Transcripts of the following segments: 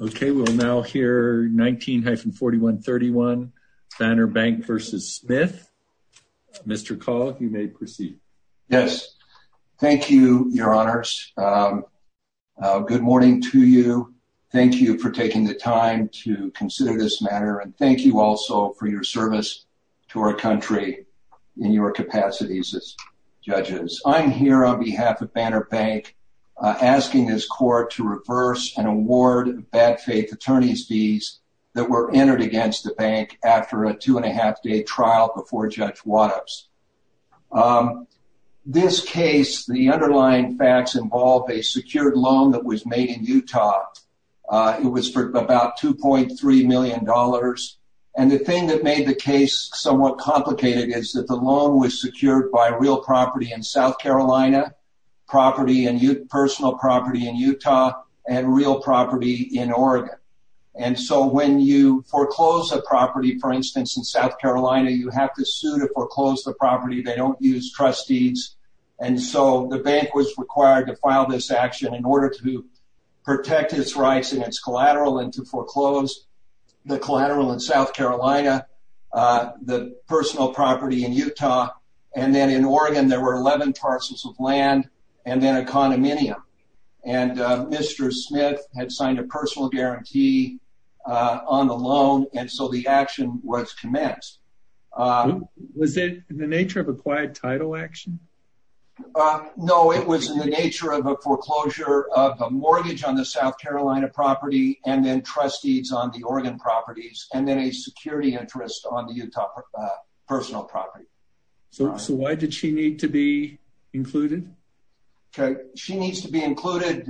Okay, we'll now hear 19-4131 Banner Bank v. Smith. Mr. Call, you may proceed. Yes, thank you, Your Honors. Good morning to you. Thank you for taking the time to consider this matter and thank you also for your service to our country in your capacities as judges. I'm here on behalf of Banner Bank asking this case. I'm here to discuss the case of the unreported bad faith attorneys fees that were entered against the bank after a two-and-a-half-day trial before Judge Wattops. This case, the underlying facts involved a secured loan that was made in Utah. It was for about 2.3 million dollars and the thing that made the case somewhat complicated is that the loan was secured by real property in South Carolina, personal property in Utah, and real property in Oregon. And so when you foreclose a property, for instance in South Carolina, you have to sue to foreclose the property. They don't use trustees and so the bank was required to file this action in order to protect its rights and its collateral and to foreclose the and then in Oregon there were 11 parcels of land and then a condominium and Mr. Smith had signed a personal guarantee on the loan and so the action was commenced. Was it in the nature of applied title action? No, it was in the nature of a foreclosure of a mortgage on the South Carolina property and then trustees on the Oregon properties and then a security interest on the Utah personal property. So why did she need to be included? Okay, she needs to be included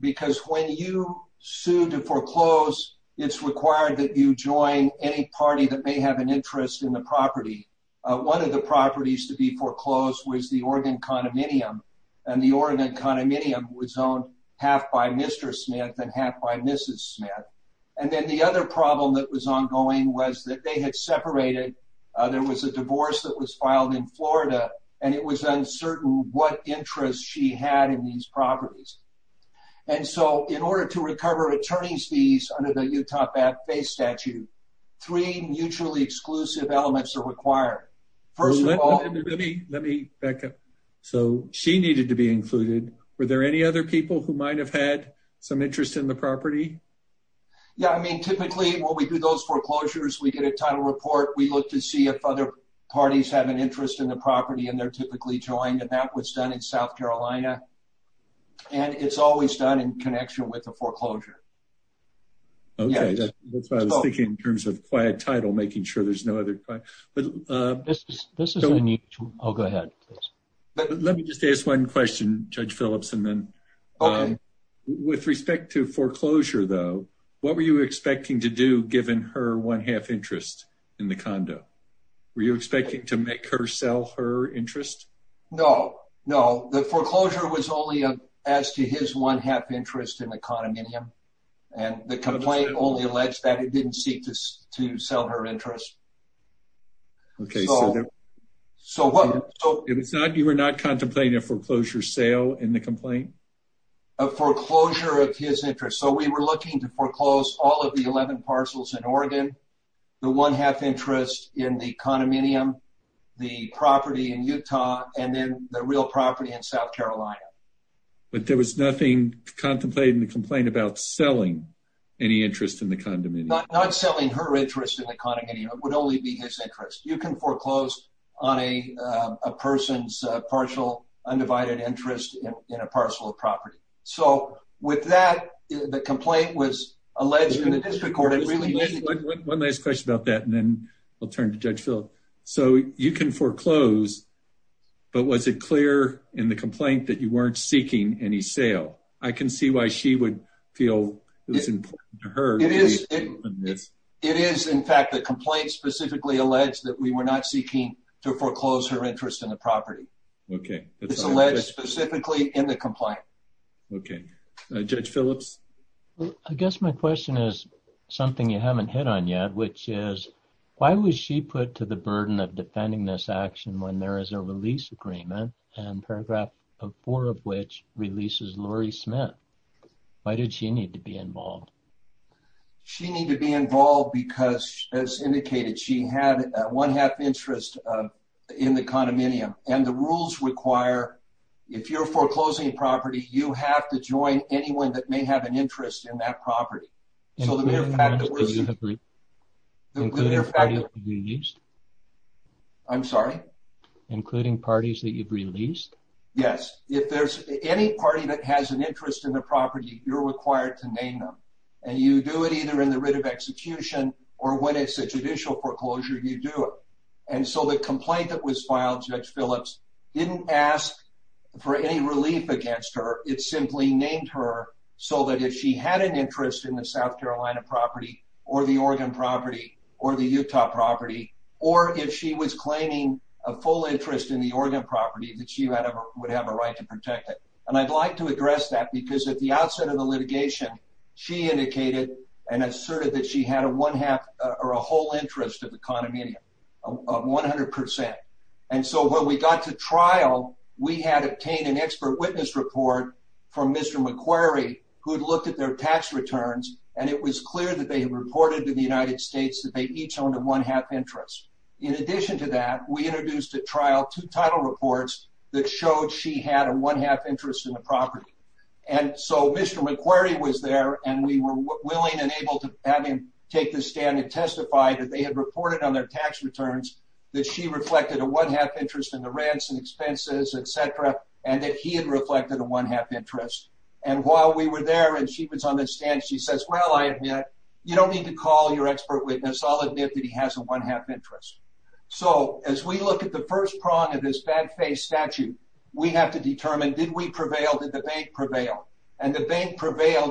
because when you sue to foreclose, it's required that you join any party that may have an interest in the property. One of the properties to be foreclosed was the Oregon condominium and the Oregon condominium was owned half by Mr. Smith and half by Mrs. Smith and then the other problem that was separated, there was a divorce that was filed in Florida and it was uncertain what interest she had in these properties and so in order to recover attorney's fees under the Utah FAFSA statute, three mutually exclusive elements are required. First of all... Let me back up. So she needed to be included. Were there any other people who might have had some interest in the property? Yeah, I mean typically when we do those foreclosures, we get a title report. We look to see if other parties have an interest in the property and they're typically joined and that was done in South Carolina and it's always done in connection with the foreclosure. Okay, that's what I was thinking in terms of quiet title, making sure there's no other... This is... I'll go ahead. Let me just ask one question, Judge Phillips, and then with respect to foreclosure though, what were you expecting to do given her one-half interest in the condo? Were you expecting to make her sell her interest? No, no. The foreclosure was only as to his one-half interest in the condominium and the complaint only alleged that it didn't seek to sell her interest. Okay, so what... If it's not, you were not contemplating a foreclosure sale in the complaint? A foreclosure of his interest. So we were looking to foreclose all of the 11 parcels in Oregon, the one-half interest in the condominium, the property in Utah, and then the real property in South Carolina. But there was nothing contemplated in the complaint about selling any interest in the condominium? Not selling her interest in the condominium. It would only be his interest. You can foreclose on a person's partial undivided interest in a parcel of property. So with that, the complaint was alleged in the district court. One last question about that, and then I'll turn to Judge Phillips. So you can foreclose, but was it clear in the complaint that you weren't seeking any sale? I can see why she would feel it was important to her. It is, in fact, the complaint specifically alleged that we were not seeking to foreclose her interest in the property. Okay. It's alleged specifically in the complaint. Okay. Judge Phillips? I guess my question is something you haven't hit on yet, which is, why was she put to the burden of defending this action when there is a release agreement and paragraph 4 of which releases Lori Smith? Why did she need to be involved? She needed to be interested in the condominium. And the rules require, if you're foreclosing a property, you have to join anyone that may have an interest in that property. Including parties that you've released? I'm sorry? Including parties that you've released? Yes. If there's any party that has an interest in the property, you're required to name them. And you do it either in the writ of execution or when it's a judicial foreclosure, you do it. And so the complaint that was filed, Judge Phillips, didn't ask for any relief against her. It simply named her so that if she had an interest in the South Carolina property or the Oregon property or the Utah property, or if she was claiming a full interest in the Oregon property, that she would have a right to protect it. And I'd like to address that because at the outset of the litigation, she indicated and asserted that she had a one-half or a whole interest of the condominium, of 100%. And so when we got to trial, we had obtained an expert witness report from Mr. McQuarrie, who had looked at their tax returns, and it was clear that they had reported to the United States that they each owned a one-half interest. In addition to that, we introduced at trial two title reports that showed she had a one-half interest in the property. And so Mr. McQuarrie was there and we were willing and able to have him take the stand and testify that they had reported on their tax returns that she reflected a one-half interest in the ransom expenses, etc., and that he had reflected a one-half interest. And while we were there and she was on the stand, she says, well, I admit, you don't need to call your expert witness. I'll admit that he has a one-half interest. So as we look at the first prong of this bad-faced statute, we have to determine, did we prevailed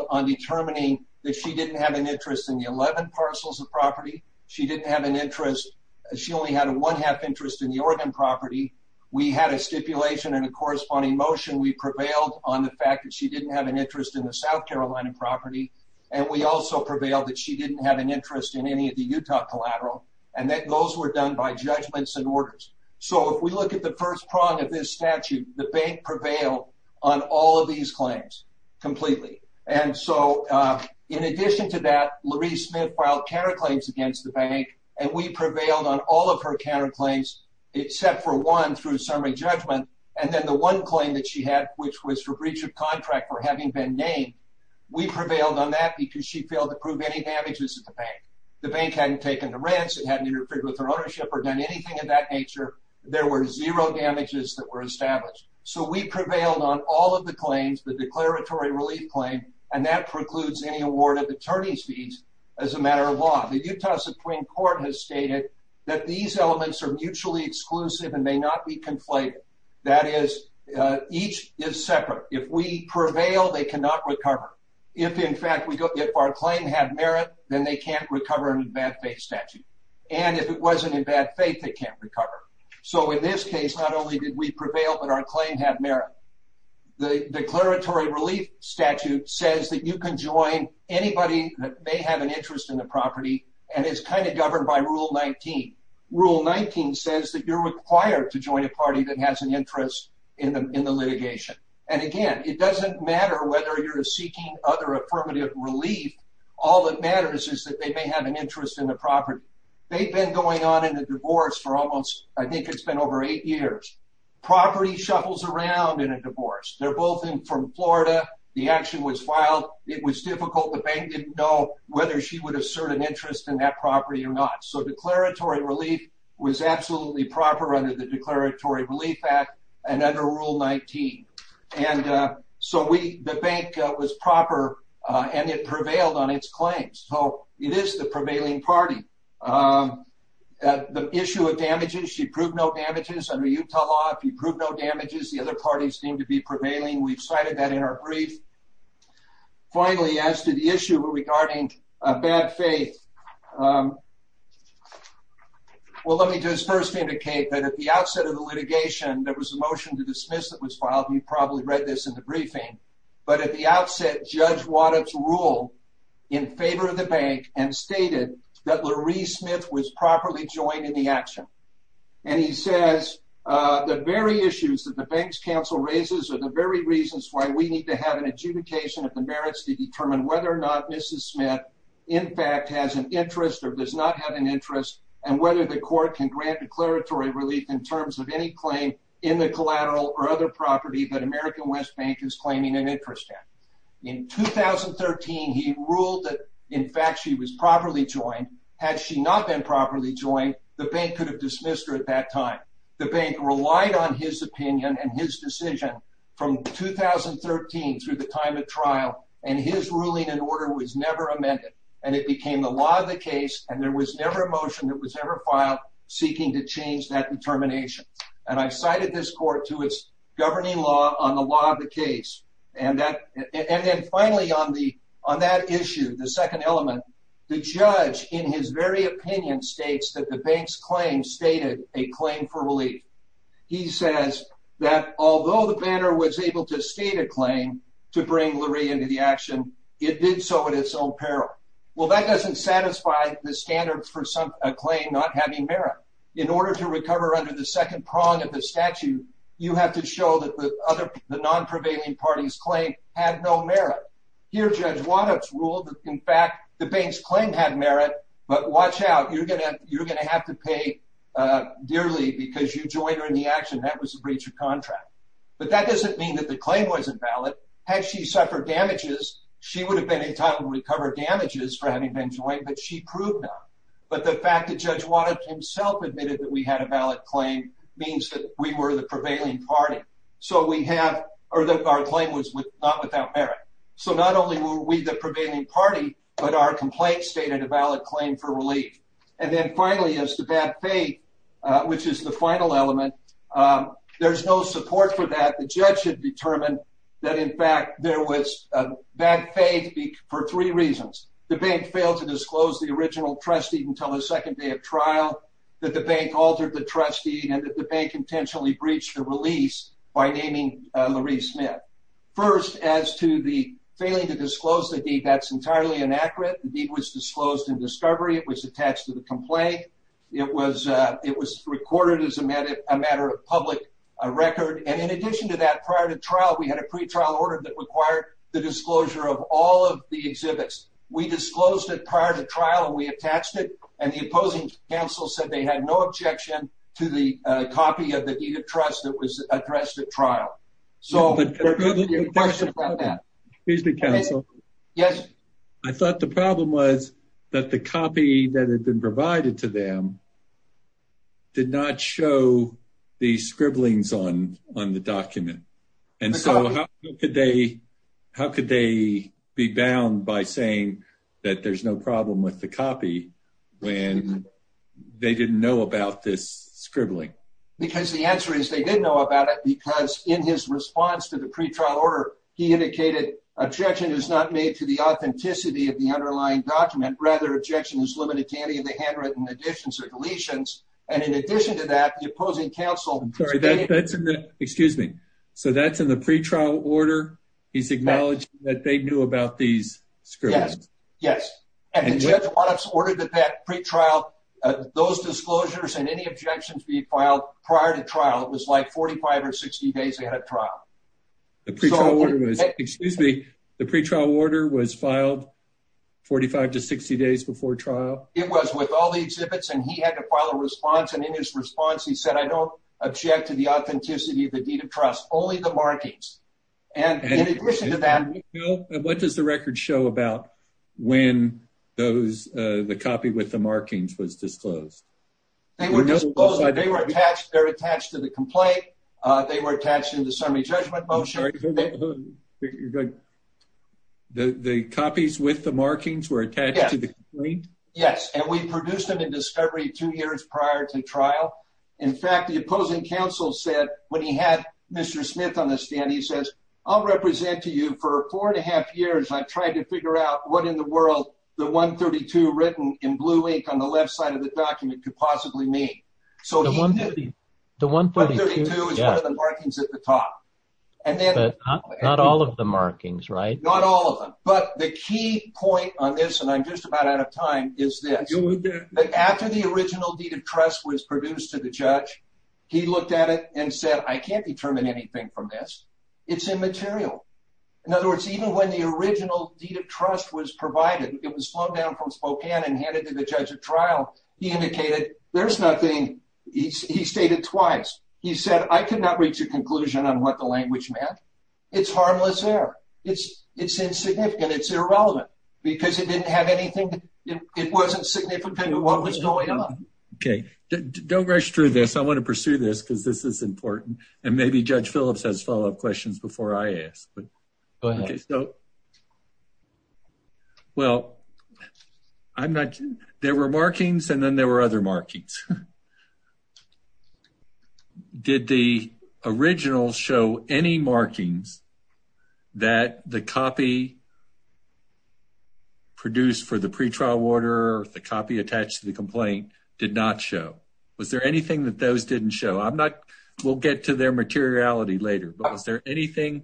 on determining that she didn't have an interest in the 11 parcels of property, she didn't have an interest, she only had a one-half interest in the Oregon property, we had a stipulation and a corresponding motion, we prevailed on the fact that she didn't have an interest in the South Carolina property, and we also prevailed that she didn't have an interest in any of the Utah collateral, and that those were done by judgments and orders. So if we look at the first prong of this statute, the bank prevailed on all of these claims completely. And so, in addition to that, Loree Smith filed counterclaims against the bank, and we prevailed on all of her counterclaims except for one through summary judgment, and then the one claim that she had, which was for breach of contract for having been named, we prevailed on that because she failed to prove any damages at the bank. The bank hadn't taken the rents, it hadn't interfered with her ownership or done anything of that nature, there were zero damages that were established. So we prevailed on all of the claims, the declaratory relief claim, and that precludes any award of attorney's fees as a matter of law. The Utah Supreme Court has stated that these elements are mutually exclusive and may not be conflated. That is, each is separate. If we prevail, they cannot recover. If, in fact, if our claim had merit, then they can't recover in a bad faith statute. And if it wasn't in bad faith, they can't recover. So in this case, not only did we prevail, but our claim had merit. The declaratory relief statute says that you can join anybody that may have an interest in the property, and it's kind of governed by Rule 19. Rule 19 says that you're required to join a party that has an interest in the litigation. And again, it doesn't matter whether you're seeking other affirmative relief, all that matters is that they may have an interest in the property. They've been going on in the divorce for almost, I think it's been over eight years. Property shuffles around in a divorce. They're both in from Florida, the action was filed, it was difficult, the bank didn't know whether she would assert an interest in that property or not. So declaratory relief was absolutely proper under the Declaratory Relief Act and under Rule 19. And so we, the bank was proper and it prevailed on its claims. So it is the prevailing party. The issue of damages under Utah law, if you prove no damages, the other parties seem to be prevailing. We've cited that in our brief. Finally, as to the issue regarding bad faith, well let me just first indicate that at the outset of the litigation, there was a motion to dismiss that was filed, you've probably read this in the briefing, but at the outset, Judge Waddup ruled in favor of the bank and stated that Loree Smith was properly joined in the action. And he says the very issues that the bank's counsel raises are the very reasons why we need to have an adjudication of the merits to determine whether or not Mrs. Smith in fact has an interest or does not have an interest and whether the court can grant declaratory relief in terms of any claim in the collateral or other property that American West Bank is claiming an interest in. In 2013, he ruled that in 2013, had she not been properly joined, the bank could have dismissed her at that time. The bank relied on his opinion and his decision from 2013 through the time of trial and his ruling and order was never amended and it became the law of the case and there was never a motion that was ever filed seeking to change that determination. And I cited this court to its governing law on the law of the case and that and then finally on the on that issue, the second element, the judge in his very opinion states that the bank's claim stated a claim for relief. He says that although the banner was able to state a claim to bring Loree into the action, it did so at its own peril. Well that doesn't satisfy the standard for some a claim not having merit. In order to recover under the second prong of the statute, you have to show that the other the non-prevailing party's claim had no merit. Here Judge Wattups ruled that in fact the bank's claim had merit, but watch out you're gonna you're gonna have to pay dearly because you joined her in the action. That was a breach of contract. But that doesn't mean that the claim wasn't valid. Had she suffered damages, she would have been in time to recover damages for having been joined, but she proved not. But the fact that Judge Wattups himself admitted that we had a valid claim means that we were the prevailing party. So we have, or that our claim was not without merit. So not only were we the prevailing party, but our complaint stated a valid claim for relief. And then finally as to bad faith, which is the final element, there's no support for that. The judge had determined that in fact there was bad faith for three reasons. The bank failed to disclose the original trustee until the second day of trial, that the bank altered the trustee, and that the bank intentionally breached the release by naming Loree Smith. First as to the failing to disclose the deed, that's entirely inaccurate. The deed was disclosed in discovery, it was attached to the complaint, it was it was recorded as a matter of public record, and in addition to that prior to trial we had a pretrial order that required the disclosure of all of the exhibits. We disclosed it prior to trial and we attached it, and the opposing counsel said they had no objection to the copy of the deed of trust that was addressed at trial. So the question about that. Excuse me, counsel. Yes. I thought the problem was that the copy that had been provided to them did not show the scribblings on on the that there's no problem with the copy when they didn't know about this scribbling. Because the answer is they didn't know about it because in his response to the pretrial order he indicated objection is not made to the authenticity of the underlying document, rather objection is limited to any of the handwritten additions or deletions, and in addition to that the opposing counsel. That's in the, excuse me, so that's in the pretrial order? He's ordered that that pretrial, those disclosures and any objections be filed prior to trial. It was like 45 or 60 days ahead of trial. The pretrial order was, excuse me, the pretrial order was filed 45 to 60 days before trial? It was with all the exhibits and he had to file a response, and in his response he said I don't object to the authenticity of the deed of trust, only the markings. And in the record show about when those, the copy with the markings was disclosed? They were disclosed, they were attached, they're attached to the complaint, they were attached in the summary judgment motion. The copies with the markings were attached to the complaint? Yes, and we produced them in discovery two years prior to trial. In fact, the opposing counsel said when he had Mr. Smith on I've tried to figure out what in the world the 132 written in blue ink on the left side of the document could possibly mean. So he knew. The 132 is one of the markings at the top. But not all of the markings, right? Not all of them, but the key point on this, and I'm just about out of time, is that after the original deed of trust was produced to the judge, he looked at it and said I can't determine anything from this. It's immaterial. In other words, even when the original deed of trust was provided, it was flown down from Spokane and handed to the judge at trial, he indicated there's nothing. He stated twice. He said I could not reach a conclusion on what the language meant. It's harmless error. It's insignificant. It's irrelevant because it didn't have anything, it wasn't significant what was going on. Okay, don't rush through this. I want to pursue this because this is important and maybe Judge Phillips has follow-up questions before I ask, but go ahead. Well, I'm not, there were markings and then there were other markings. Did the original show any markings that the copy produced for the pretrial order, the copy attached to the complaint, did not show? Was there anything that those didn't show? We'll get to their materiality later, but was there anything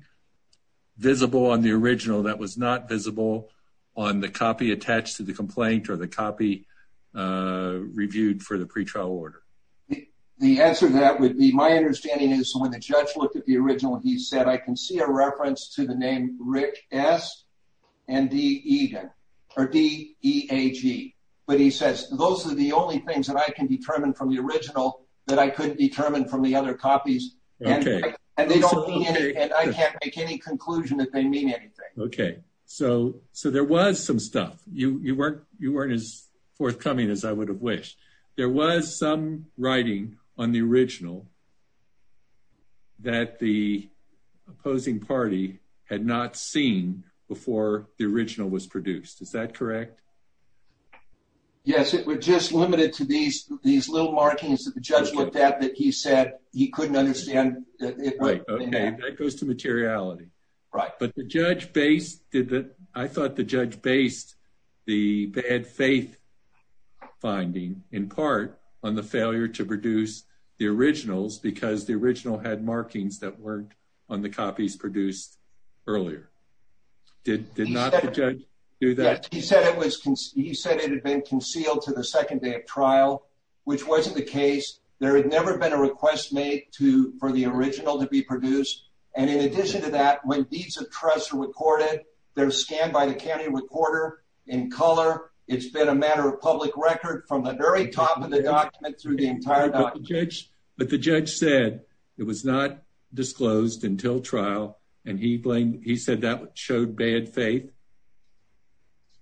visible on the original that was not visible on the copy attached to the complaint or the copy reviewed for the pretrial order? The answer to that would be my understanding is when the judge looked at the original, he said I can see a reference to the name Rick S. and D. E. A. G., but he says those are the only things I can determine from the original that I couldn't determine from the other copies. I can't make any conclusion that they mean anything. Okay, so there was some stuff. You weren't as forthcoming as I would have wished. There was some writing on the original that the opposing party had not seen before the original was produced. Is that correct? Yes, it was just limited to these little markings that the judge looked at that he said he couldn't understand. Right, okay, that goes to materiality. Right. But the judge based, I thought the judge based the bad faith finding in part on the failure to produce the originals because the original had markings that weren't on the copies produced earlier. Did not the judge do that? He said it had been concealed to the second day of trial, which wasn't the case. There had never been a request made for the original to be produced, and in addition to that, when deeds of trust are recorded, they're scanned by the county recorder in color. It's been a matter of public record from the very top of the document through the He said that showed bad faith.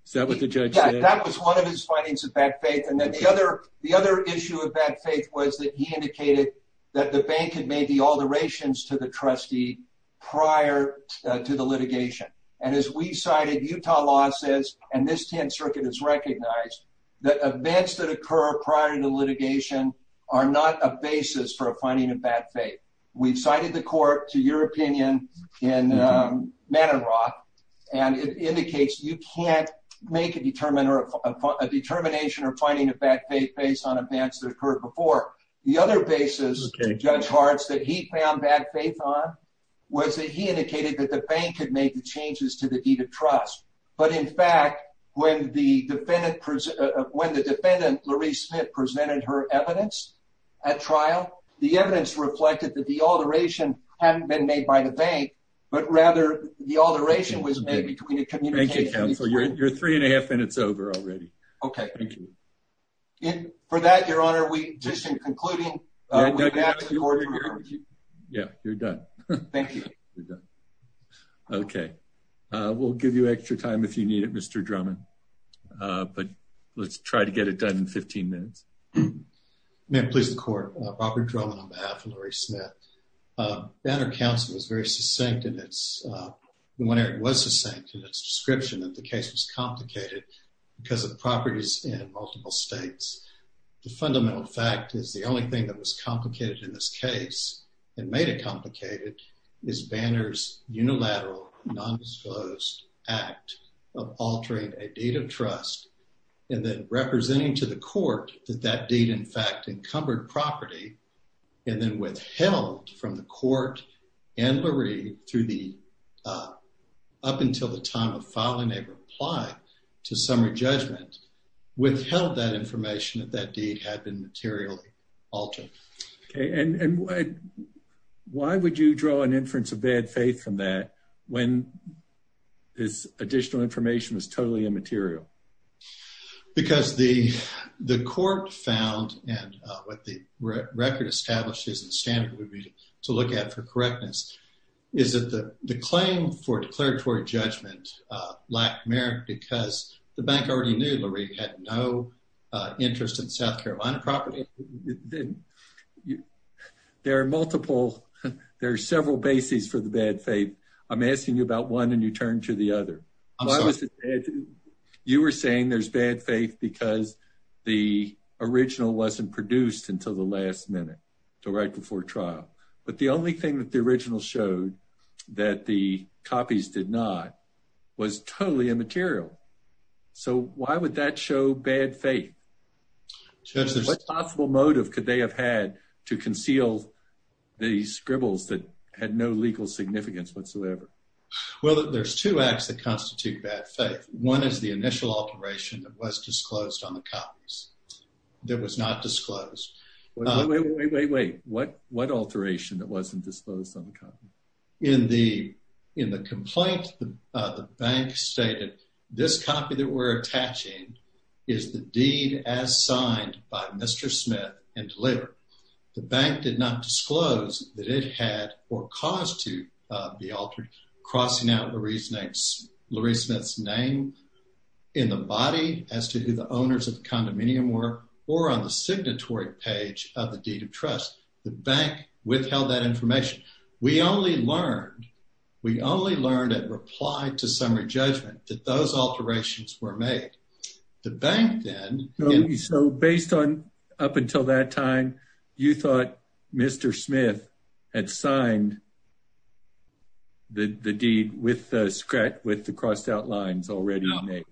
Is that what the judge said? Yeah, that was one of his findings of bad faith, and then the other issue of bad faith was that he indicated that the bank had made the alterations to the trustee prior to the litigation, and as we cited, Utah law says, and this 10th Circuit has recognized, that events that occur prior to the litigation are not a basis for a finding of bad faith. We've cited the court to your opinion in Manin Rock, and it indicates you can't make a determination or finding of bad faith based on events that occurred before. The other basis, Judge Hartz, that he found bad faith on was that he indicated that the bank had made the changes to the deed of trust, but in fact, when the defendant, when the defendant, Lurie Smith, presented her evidence at trial, the evidence reflected that the alteration hadn't been made by the bank, but rather the alteration was made between the communication. Thank you, counsel. You're three and a half minutes over already. Okay. Thank you. And for that, your honor, we, just in concluding, we have to order your review. Yeah, you're done. Thank you. You're done. Okay. We'll give you extra time if you need it, Mr. Drummond, but let's try to get it done in 15 minutes. May it please the court. Robert Drummond on behalf of Lurie Smith. Banner Council was very succinct in its, when it was succinct in its description, that the case was complicated because of properties in multiple states. The fundamental fact is the only thing that was complicated in this case and made it complicated is Banner's unilateral, nondisclosed act of altering a deed of trust and then representing to the court that that deed, in fact, encumbered property and then withheld from the court and Lurie through the, up until the time of filing a to summary judgment, withheld that information that that deed had been materially altered. Okay. And why would you draw an inference of bad faith from that when this additional information was totally immaterial? Because the court found, and what the record establishes and standard would be to look at for correctness, is that the claim for declaratory judgment, lack merit, because the bank already knew Lurie had no interest in South Carolina property. There are multiple, there are several bases for the bad faith. I'm asking you about one and you turn to the other. You were saying there's bad faith because the original wasn't produced until the last minute, right before trial. But the only thing that the original showed that the copies did not was totally immaterial. So why would that show bad faith? What possible motive could they have had to conceal the scribbles that had no legal significance whatsoever? Well, there's two acts that constitute bad faith. One is the initial alteration that was disclosed on the copies that was not disclosed. Wait, wait, wait, wait, wait. What, what alteration that wasn't disclosed on the copy? In the complaint, the bank stated this copy that we're attaching is the deed as signed by Mr. Smith and delivered. The bank did not disclose that it had or cause to be altered crossing out Lurie Smith's name in the body as to who the owners of the condominium were or on the signatory page of the deed of trust. The bank withheld that information. We only learned, we only learned at reply to summary judgment that those alterations were made. The bank then. So based on up until that time, you thought Mr. Smith had signed the deed with the scratch, with the crossed out lines already made.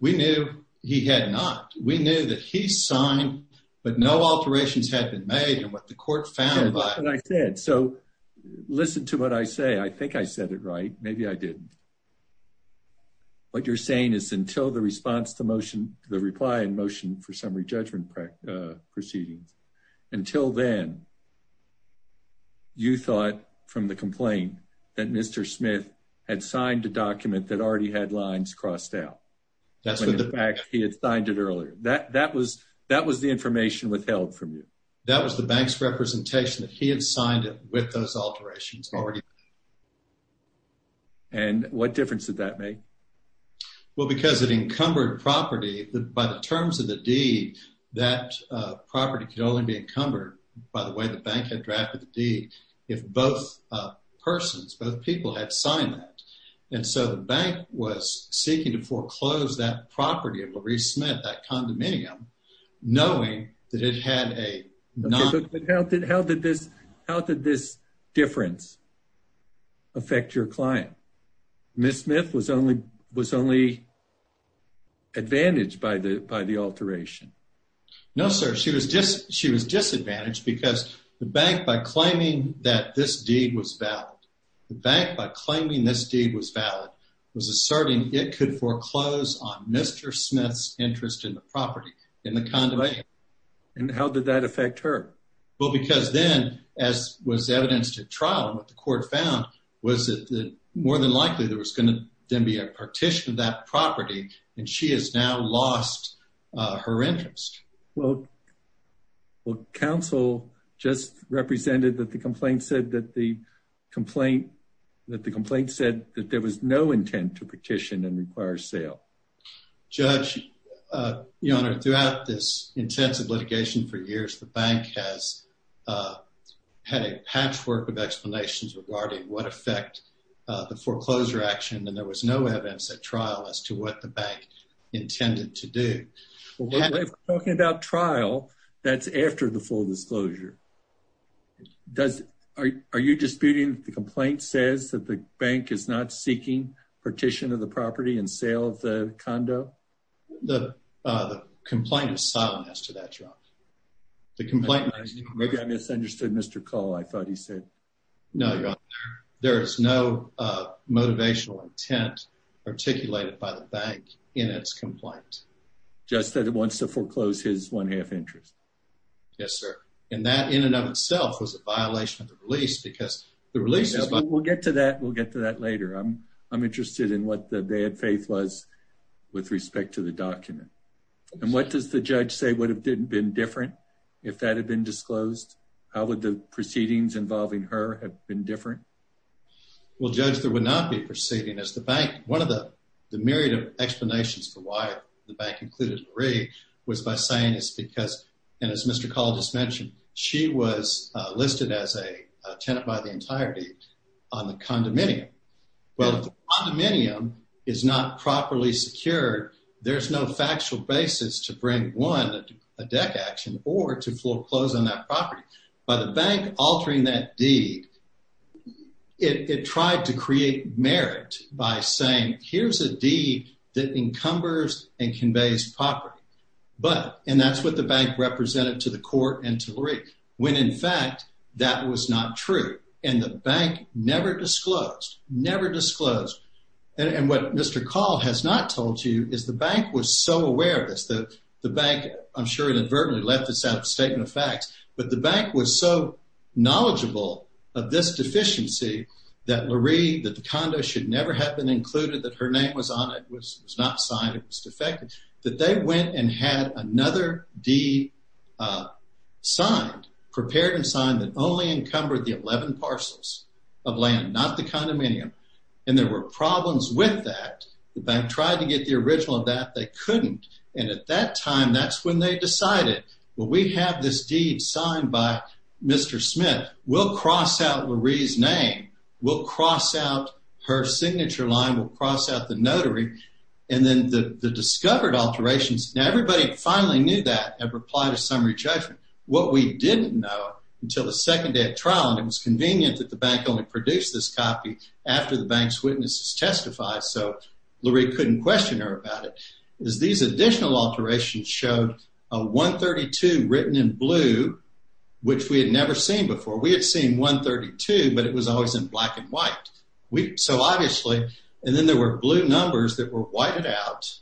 We knew he had not, we knew that he signed, but no alterations had been made and what the court found. And I said, so listen to what I say. I think I said it right. Maybe I didn't. What you're saying is until the response to motion, the reply and motion for summary judgment proceedings until then you thought from the complaint that Mr. Smith had signed a document that already had lines crossed out. That's the fact he had signed it earlier. That, that was, that was the information withheld from you. That was the bank's representation that he had signed it with those alterations already. And what difference did that make? Well, because it encumbered property by the terms of the deed, that property could only be encumbered by the way the persons, both people had signed that. And so the bank was seeking to foreclose that property of Maurice Smith, that condominium, knowing that it had a... But how did, how did this, how did this difference affect your client? Ms. Smith was only, was only advantaged by the, by the alteration. No, sir. She was just, she was disadvantaged because the bank, by claiming that this deed was valid, the bank, by claiming this deed was valid, was asserting it could foreclose on Mr. Smith's interest in the property, in the condominium. And how did that affect her? Well, because then as was evidenced at trial, what the court found was that more than likely there was going to then be a partition of that property, and she has now lost her interest. Well, well, counsel just represented that the complaint said that the complaint, that the complaint said that there was no intent to partition and require sale. Judge, Your Honor, throughout this intensive litigation for years, the bank has had a patchwork of explanations regarding what effect the foreclosure action, and there was no evidence at trial as to what the bank intended to do. Well, if we're talking about trial, that's after the full disclosure. Does, are you disputing the complaint says that the bank is not seeking partition of the property and sale of the condo? The complaint is silent as to that, Your Honor. The complaint... Maybe I misunderstood Mr. Call. I thought he said... No, Your Honor. There is no motivational intent articulated by the bank in its complaint. Just that it wants to foreclose his one-half interest. Yes, sir. And that in and of itself was a violation of the release because the release... We'll get to that. We'll get to that later. I'm interested in what the bad faith was with respect to the document. And what does the judge say would have been different if that had been disclosed? How would the proceedings involving her have been different? Well, Judge, there would not be proceeding as the bank... One of the myriad of explanations for why the bank included Marie was by saying it's because... And as Mr. Call just mentioned, she was listed as a tenant by the entirety on the condominium. Well, if the condominium is not properly secured, there's no factual basis to bring, one, a deck action or to foreclose on that property. By the bank altering that deed, it tried to create merit by saying, here's a deed that encumbers and conveys property. But... And that's what the bank represented to the court and to Marie, when in fact, that was not true. And the bank never disclosed, never disclosed. And what Mr. Call has not told you is the bank was so aware of this. The bank, I'm sure, inadvertently left this out of a statement of facts. But the bank was so knowledgeable of this deficiency that Marie, that the condo should never have been included, that her name was on it, was not signed, it was defective, that they went and had another deed signed, prepared and signed, that only encumbered the 11 parcels of land, not the condominium. And there were problems with that. The bank tried to get the original of that. They couldn't. And at that time, that's when they decided, well, we have this deed signed by Mr. Smith. We'll cross out Marie's name. We'll cross out her signature line. We'll cross out the notary. And then the discovered alterations. Now, everybody finally knew that and replied to summary judgment. What we didn't know until the second day of trial, and it was convenient that the bank only produced this copy after the bank's witnesses testified, so Marie couldn't question her about it, is these additional alterations showed a 132 written in blue, which we had never seen before. We had seen 132, but it was always in black and white. So obviously, and then there were blue numbers that were whited out.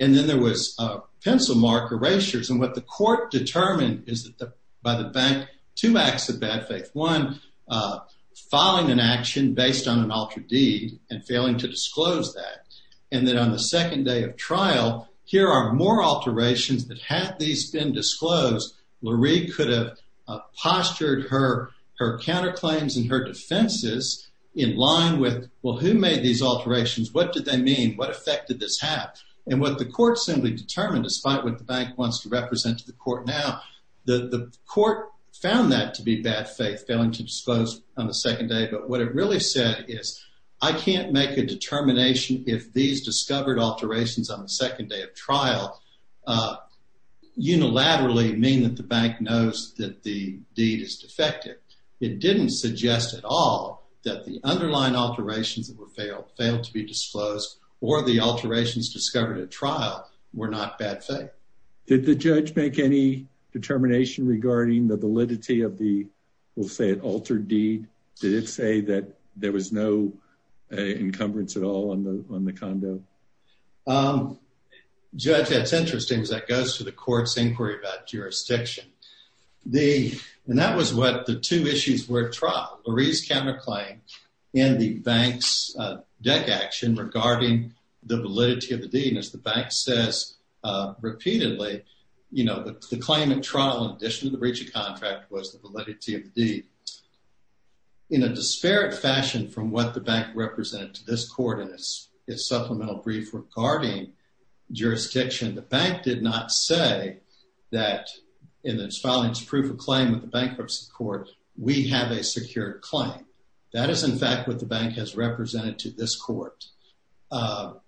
And then there was a pencil mark, erasures. And what the court determined is that by the bank, two acts of bad faith. One, filing an action based on an altered deed and failing to disclose that. And then on the second day of trial, here are more alterations that had these been disclosed, Marie could have postured her counterclaims and her defenses in line with, well, who made these alterations? What did they mean? What effect did this have? And what the court simply determined, despite what the bank wants to represent to the court now, the court found that to be bad faith, failing to disclose on the second day. But what it really said is, I can't make a determination if these discovered alterations on the second day of trial unilaterally mean that the bank knows that the deed is defective. It didn't suggest at all that the underlying alterations that were failed, failed to be disclosed or the alterations discovered at trial were not bad faith. Did the judge make any determination regarding the validity of the, we'll say it altered deed? Did it say that there was no encumbrance at all on the condo? Judge, that's interesting because that goes to the court's inquiry about jurisdiction. And that was what the two issues were at trial, Marie's counterclaim and the bank's deck action regarding the validity of the deed. And as the bank says repeatedly, the claim at trial, in addition to the breach of contract was the validity of the deed. In a disparate fashion from what the bank represented to this court and its supplemental brief regarding jurisdiction, the bank did not say that in its filing proof of claim with the bankruptcy court, we have a secure claim. That is in fact what the bank has represented to this court. The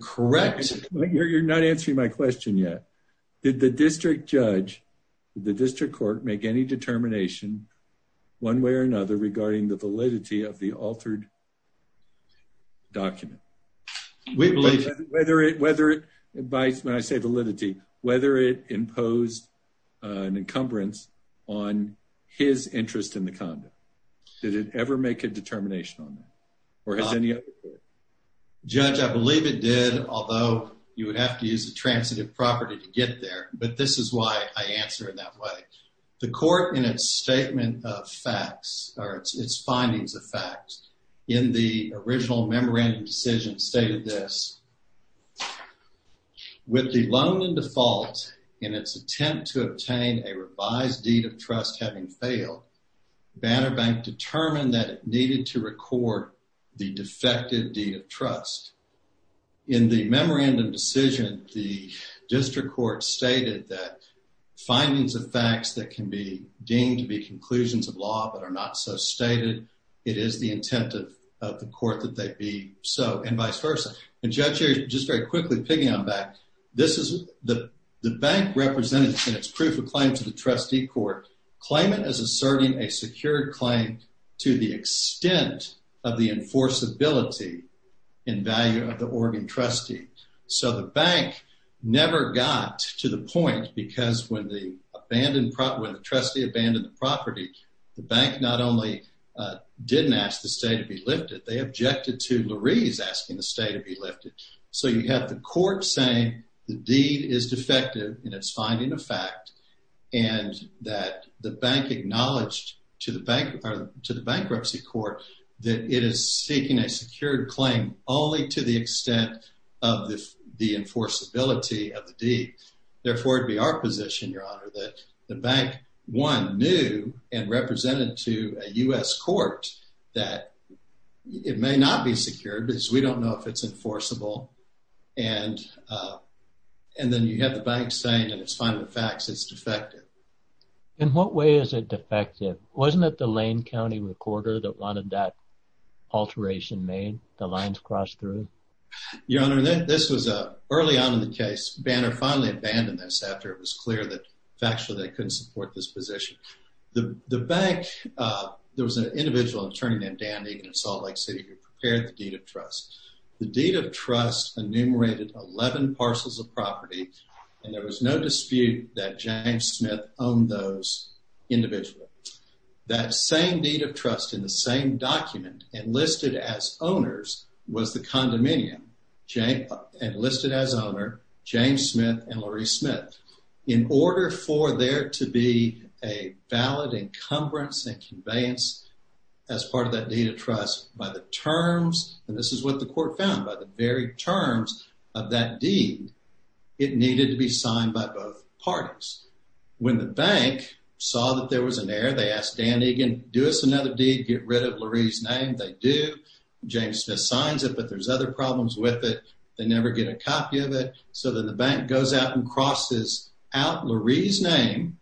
correct... You're not answering my question yet. Did the district judge, the district court make any determination one way or another regarding the validity of the altered document? We believe... Whether it, whether it, when I say validity, whether it imposed an encumbrance on his interest in the condo. Did it ever make a determination on that? Or has any other... Judge, I believe it did, although you would have to use a transitive property to get there. But this is why I answer it that way. The court in its statement of facts, or its findings of facts, in the original memorandum decision stated this. With the loan in default, in its attempt to obtain a revised deed of trust having failed, Banner Bank determined that it needed to record the defective deed of trust. In the memorandum decision, the district court stated that findings of facts that can be deemed to be conclusions of law but are not so stated, it is the intent of the court that they be so, and vice versa. And Judge, just very quickly, piggy on back. This is... The bank represented in its proof of claim to the trustee court, claimant is asserting a secured claim to the extent of the enforceability in value of the Oregon trustee. So the bank never got to the point, because when the trustee abandoned the property, the bank not only didn't ask the state to be lifted, they objected to Lurie's asking the state to be lifted. So you have the court saying the deed is defective in its finding of fact, and that the bank acknowledged to the bankruptcy court that it is seeking a secured claim only to the extent of the enforceability of the deed. Therefore, it'd be our position, Your Honor, that the bank, one, knew and represented to a U.S. court that it may not be secured because we don't know if it's enforceable. And then you have the bank saying in its finding of facts it's defective. In what way is it defective? Wasn't it the Lane County recorder that wanted that alteration made? The lines crossed through? Your Honor, this was early on in the case. Banner finally abandoned this after it was clear that factually they couldn't support this position. The bank, there was an individual attorney named Dan Egan in Salt Lake City who prepared the deed of trust. The deed of trust enumerated 11 parcels of property, and there was no dispute that James Smith owned those individually. That same deed of trust in the same document enlisted as owners was the condominium enlisted as owner James Smith and Laurie Smith. In order for there to be a valid encumbrance and conveyance as part of that deed of trust by the terms, and this is what the court found, by the very terms of that deed, it needed to be signed by both parties. When the bank saw that there was an error, they asked Dan Egan, do us another deed, get rid of Laurie's name. They do. James Smith signs it, but there's other problems with it. They never get a copy of it. So then the bank goes out and crosses out Laurie's name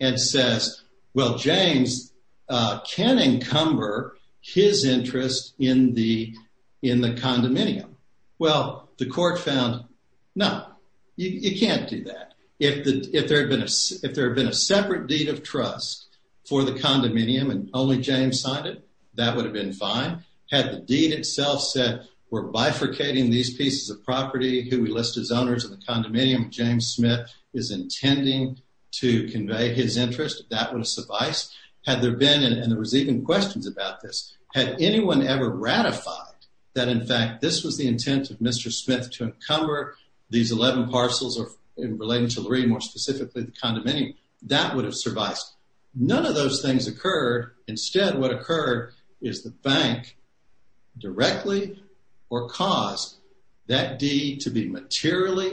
and says, well, James can encumber his interest in the condominium. Well, the court found, no, you can't do that. If there had been a separate deed of trust for the condominium and only James signed it, that would have been fine. Had the deed itself said, we're bifurcating these pieces of property who we list as owners of the condominium James Smith is intending to convey his interest, that would have sufficed. Had there been, and there were ratified, that in fact, this was the intent of Mr. Smith to encumber these 11 parcels relating to Laurie, more specifically the condominium, that would have survived. None of those things occurred. Instead, what occurred is the bank directly or caused that deed to be materially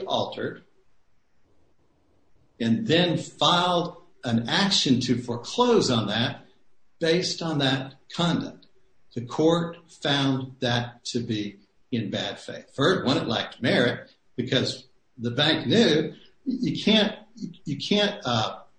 found that to be in bad faith. For one, it lacked merit because the bank knew you can't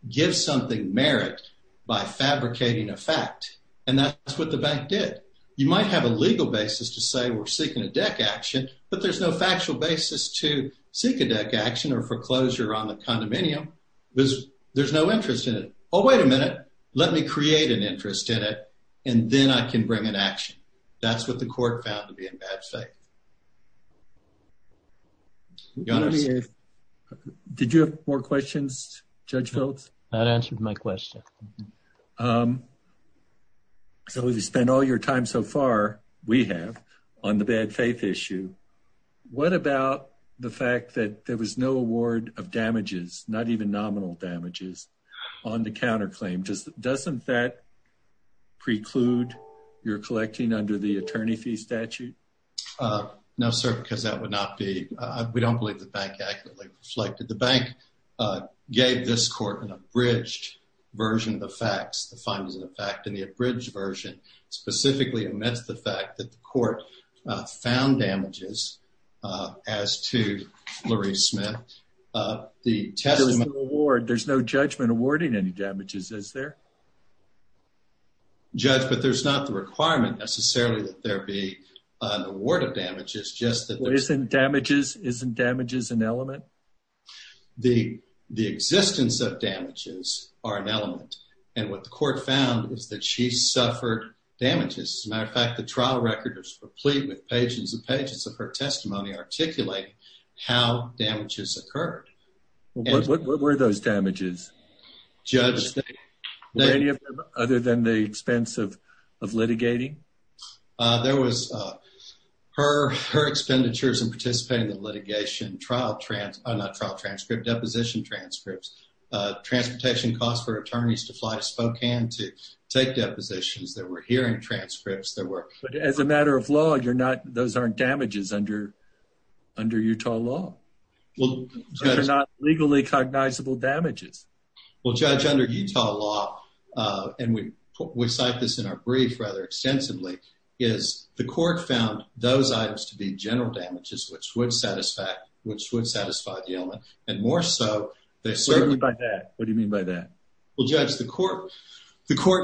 give something merit by fabricating a fact. And that's what the bank did. You might have a legal basis to say we're seeking a deck action, but there's no factual basis to seek a deck action or foreclosure on the condominium because there's no interest in it. Oh, wait a minute, let me create an interest in it, and then I can bring an action. That's what the court found to be in bad faith. Did you have more questions, Judge Phelps? That answered my question. So we've spent all your time so far, we have, on the bad faith issue. What about the fact that there was no award of damages, not even nominal damages, on the counterclaim? Doesn't that preclude your collecting under the attorney fee statute? No, sir, because that would not be, we don't believe the bank accurately reflected. The bank gave this court an abridged version of the facts, the findings of the fact, and the abridged version specifically admits the fact that the court found damages as to damages. Is there? Judge, but there's not the requirement necessarily that there be an award of damages. Isn't damages an element? The existence of damages are an element, and what the court found is that she suffered damages. As a matter of fact, the trial record is complete with pages and pages of her testimony articulating how damages occurred. What were those damages? Judge, were any of them other than the expense of litigating? There was her expenditures in participating in the litigation, trial, not trial transcript, deposition transcripts, transportation costs for attorneys to fly to Spokane to take depositions, there were hearing transcripts, there were... But as a matter of law, you're not, those aren't damages under Utah law. Those are not legally cognizable damages. Well, Judge, under Utah law, and we cite this in our brief rather extensively, is the court found those items to be general damages, which would satisfy the element, and more so they served... What do you mean by that? Well, Judge, the court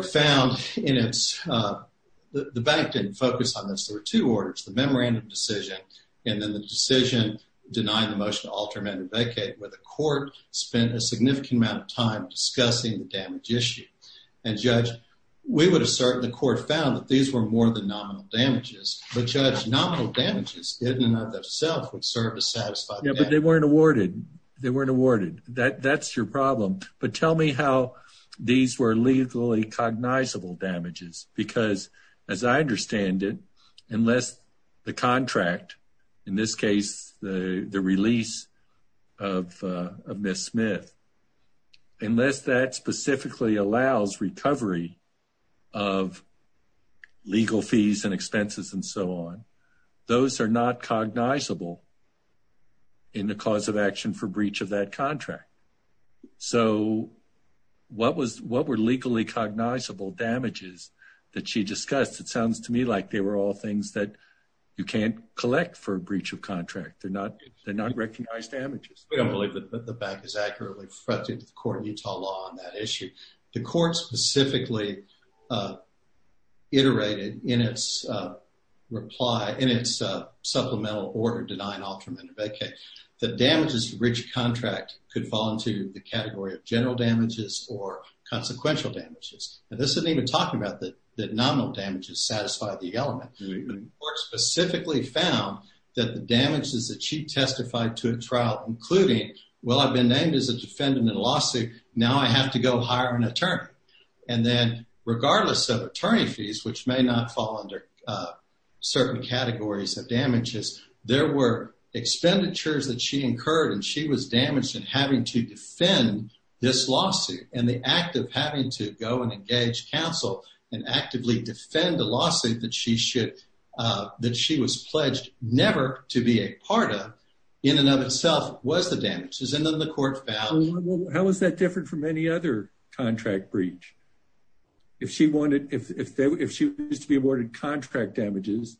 found in its, the bank didn't focus on this. There were two orders, the memorandum decision and then the decision denying the motion to alter amended vacate, where the court spent a significant amount of time discussing the damage issue. And Judge, we would assert the court found that these were more than nominal damages, but Judge, nominal damages in and of themselves would serve to satisfy... Yeah, but they weren't awarded. They weren't awarded. That's your problem. But tell me how these were legally cognizable damages. Because as I understand it, unless the contract, in this case, the release of Ms. Smith, unless that specifically allows recovery of legal fees and expenses and so on, those are not cognizable in the cause of action for breach of that contract. So what were legally cognizable damages that she discussed? It sounds to me like they were all things that you can't collect for a breach of contract. They're not recognized damages. We don't believe that the bank is accurately reflected to the court in Utah law on that issue. The court specifically iterated in its supplemental order denying alter amended vacate that damages to breach of contract could fall into the category of general damages or consequential damages. And this isn't even talking about that nominal damages satisfy the element. The court specifically found that the damages that she testified to a trial, including, well, I've been named as a defendant in a lawsuit. Now I have to go hire an attorney. And then regardless of attorney fees, which may not fall under certain categories of damages, there were expenditures that she incurred and she was damaged in having to defend this lawsuit. And the act of having to go and engage counsel and actively defend the lawsuit that she was never to be a part of in and of itself was the damages. And then the court found. How is that different from any other contract breach? If she wanted, if she used to be awarded contract damages,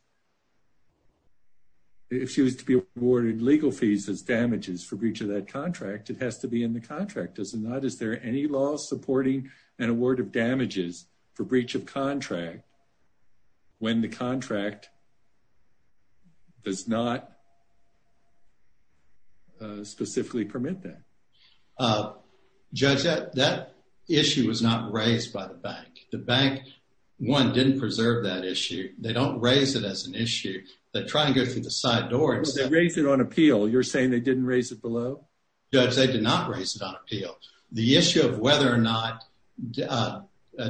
if she was to be awarded legal fees as damages for breach of that contract, it has to be in the contract. Does it not? Is there any law supporting an award of damages for breach of contract does not specifically permit that judge that that issue was not raised by the bank. The bank one didn't preserve that issue. They don't raise it as an issue that trying to get through the side door and raise it on appeal. You're saying they didn't raise it below. Judge, they did not raise it on appeal. The issue of whether or not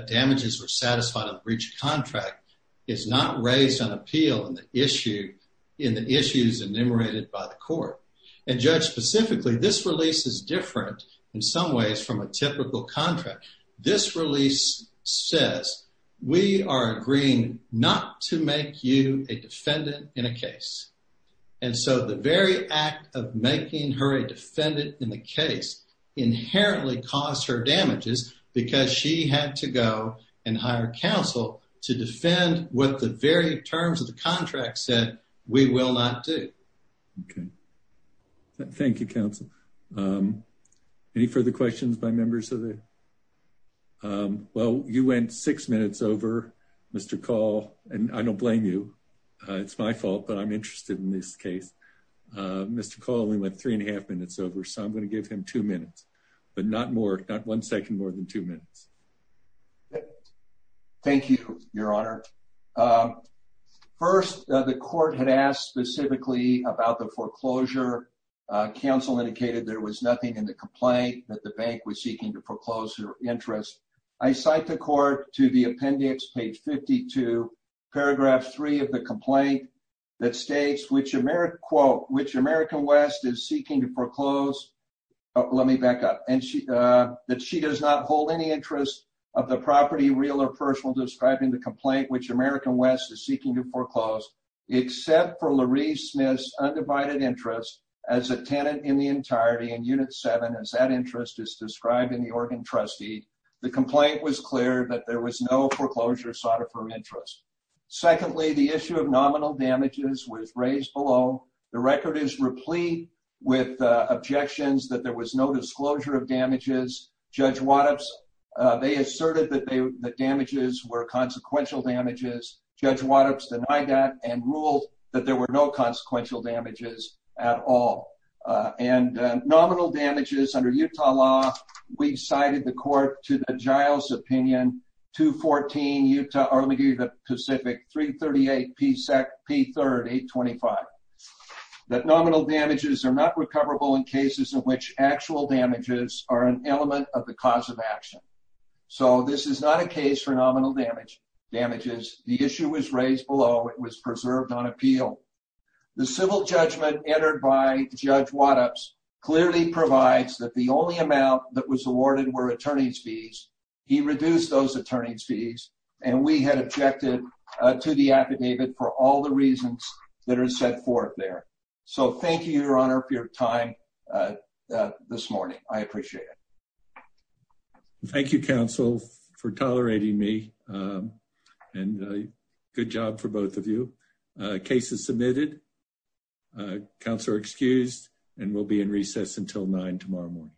damages were satisfied of breach of contract is not raised on appeal in the issue in the issues enumerated by the court and judge. Specifically, this release is different in some ways from a typical contract. This release says we are agreeing not to make you a defendant in a case. And so the very act of making her a defendant in the case inherently caused her damages because she had to go and hire counsel to defend what the very terms of the contract said we will not do. Okay. Thank you, counsel. Any further questions by members of it? Well, you went six minutes over Mr. Call, and I don't blame you. It's my fault, but I'm interested in this case. Mr. Call only went three and a half minutes over, so I'm going to give him two minutes, but not one second more than two minutes. Thank you, Your Honor. First, the court had asked specifically about the foreclosure. Counsel indicated there was nothing in the complaint that the bank was seeking to proclose her interest. I cite the court to the appendix, page 52, paragraph three of the complaint that states which American West is seeking to proclose. Let me back up. And that she does not hold any interest of the property, real or personal, describing the complaint which American West is seeking to foreclose except for Loree Smith's undivided interest as a tenant in the entirety and unit seven as that interest is described in the Oregon trustee. The complaint was clear that there was no foreclosure sought of her interest. Secondly, the issue of nominal damages was raised below. The record is replete with objections that there was no disclosure of damages. Judge Waddups, they asserted that the damages were consequential damages. Judge Waddups denied that and ruled that there were no consequential damages at all. And 338P3, 825. That nominal damages are not recoverable in cases in which actual damages are an element of the cause of action. So this is not a case for nominal damages. The issue was raised below. It was preserved on appeal. The civil judgment entered by Judge Waddups clearly provides that the only amount that was awarded were attorney's fees. He reduced those attorney's fees to the affidavit for all the reasons that are set forth there. So thank you, your honor, for your time this morning. I appreciate it. Thank you, counsel, for tolerating me and good job for both of you. Case is submitted. Counselor excused and we'll be in recess until nine tomorrow morning.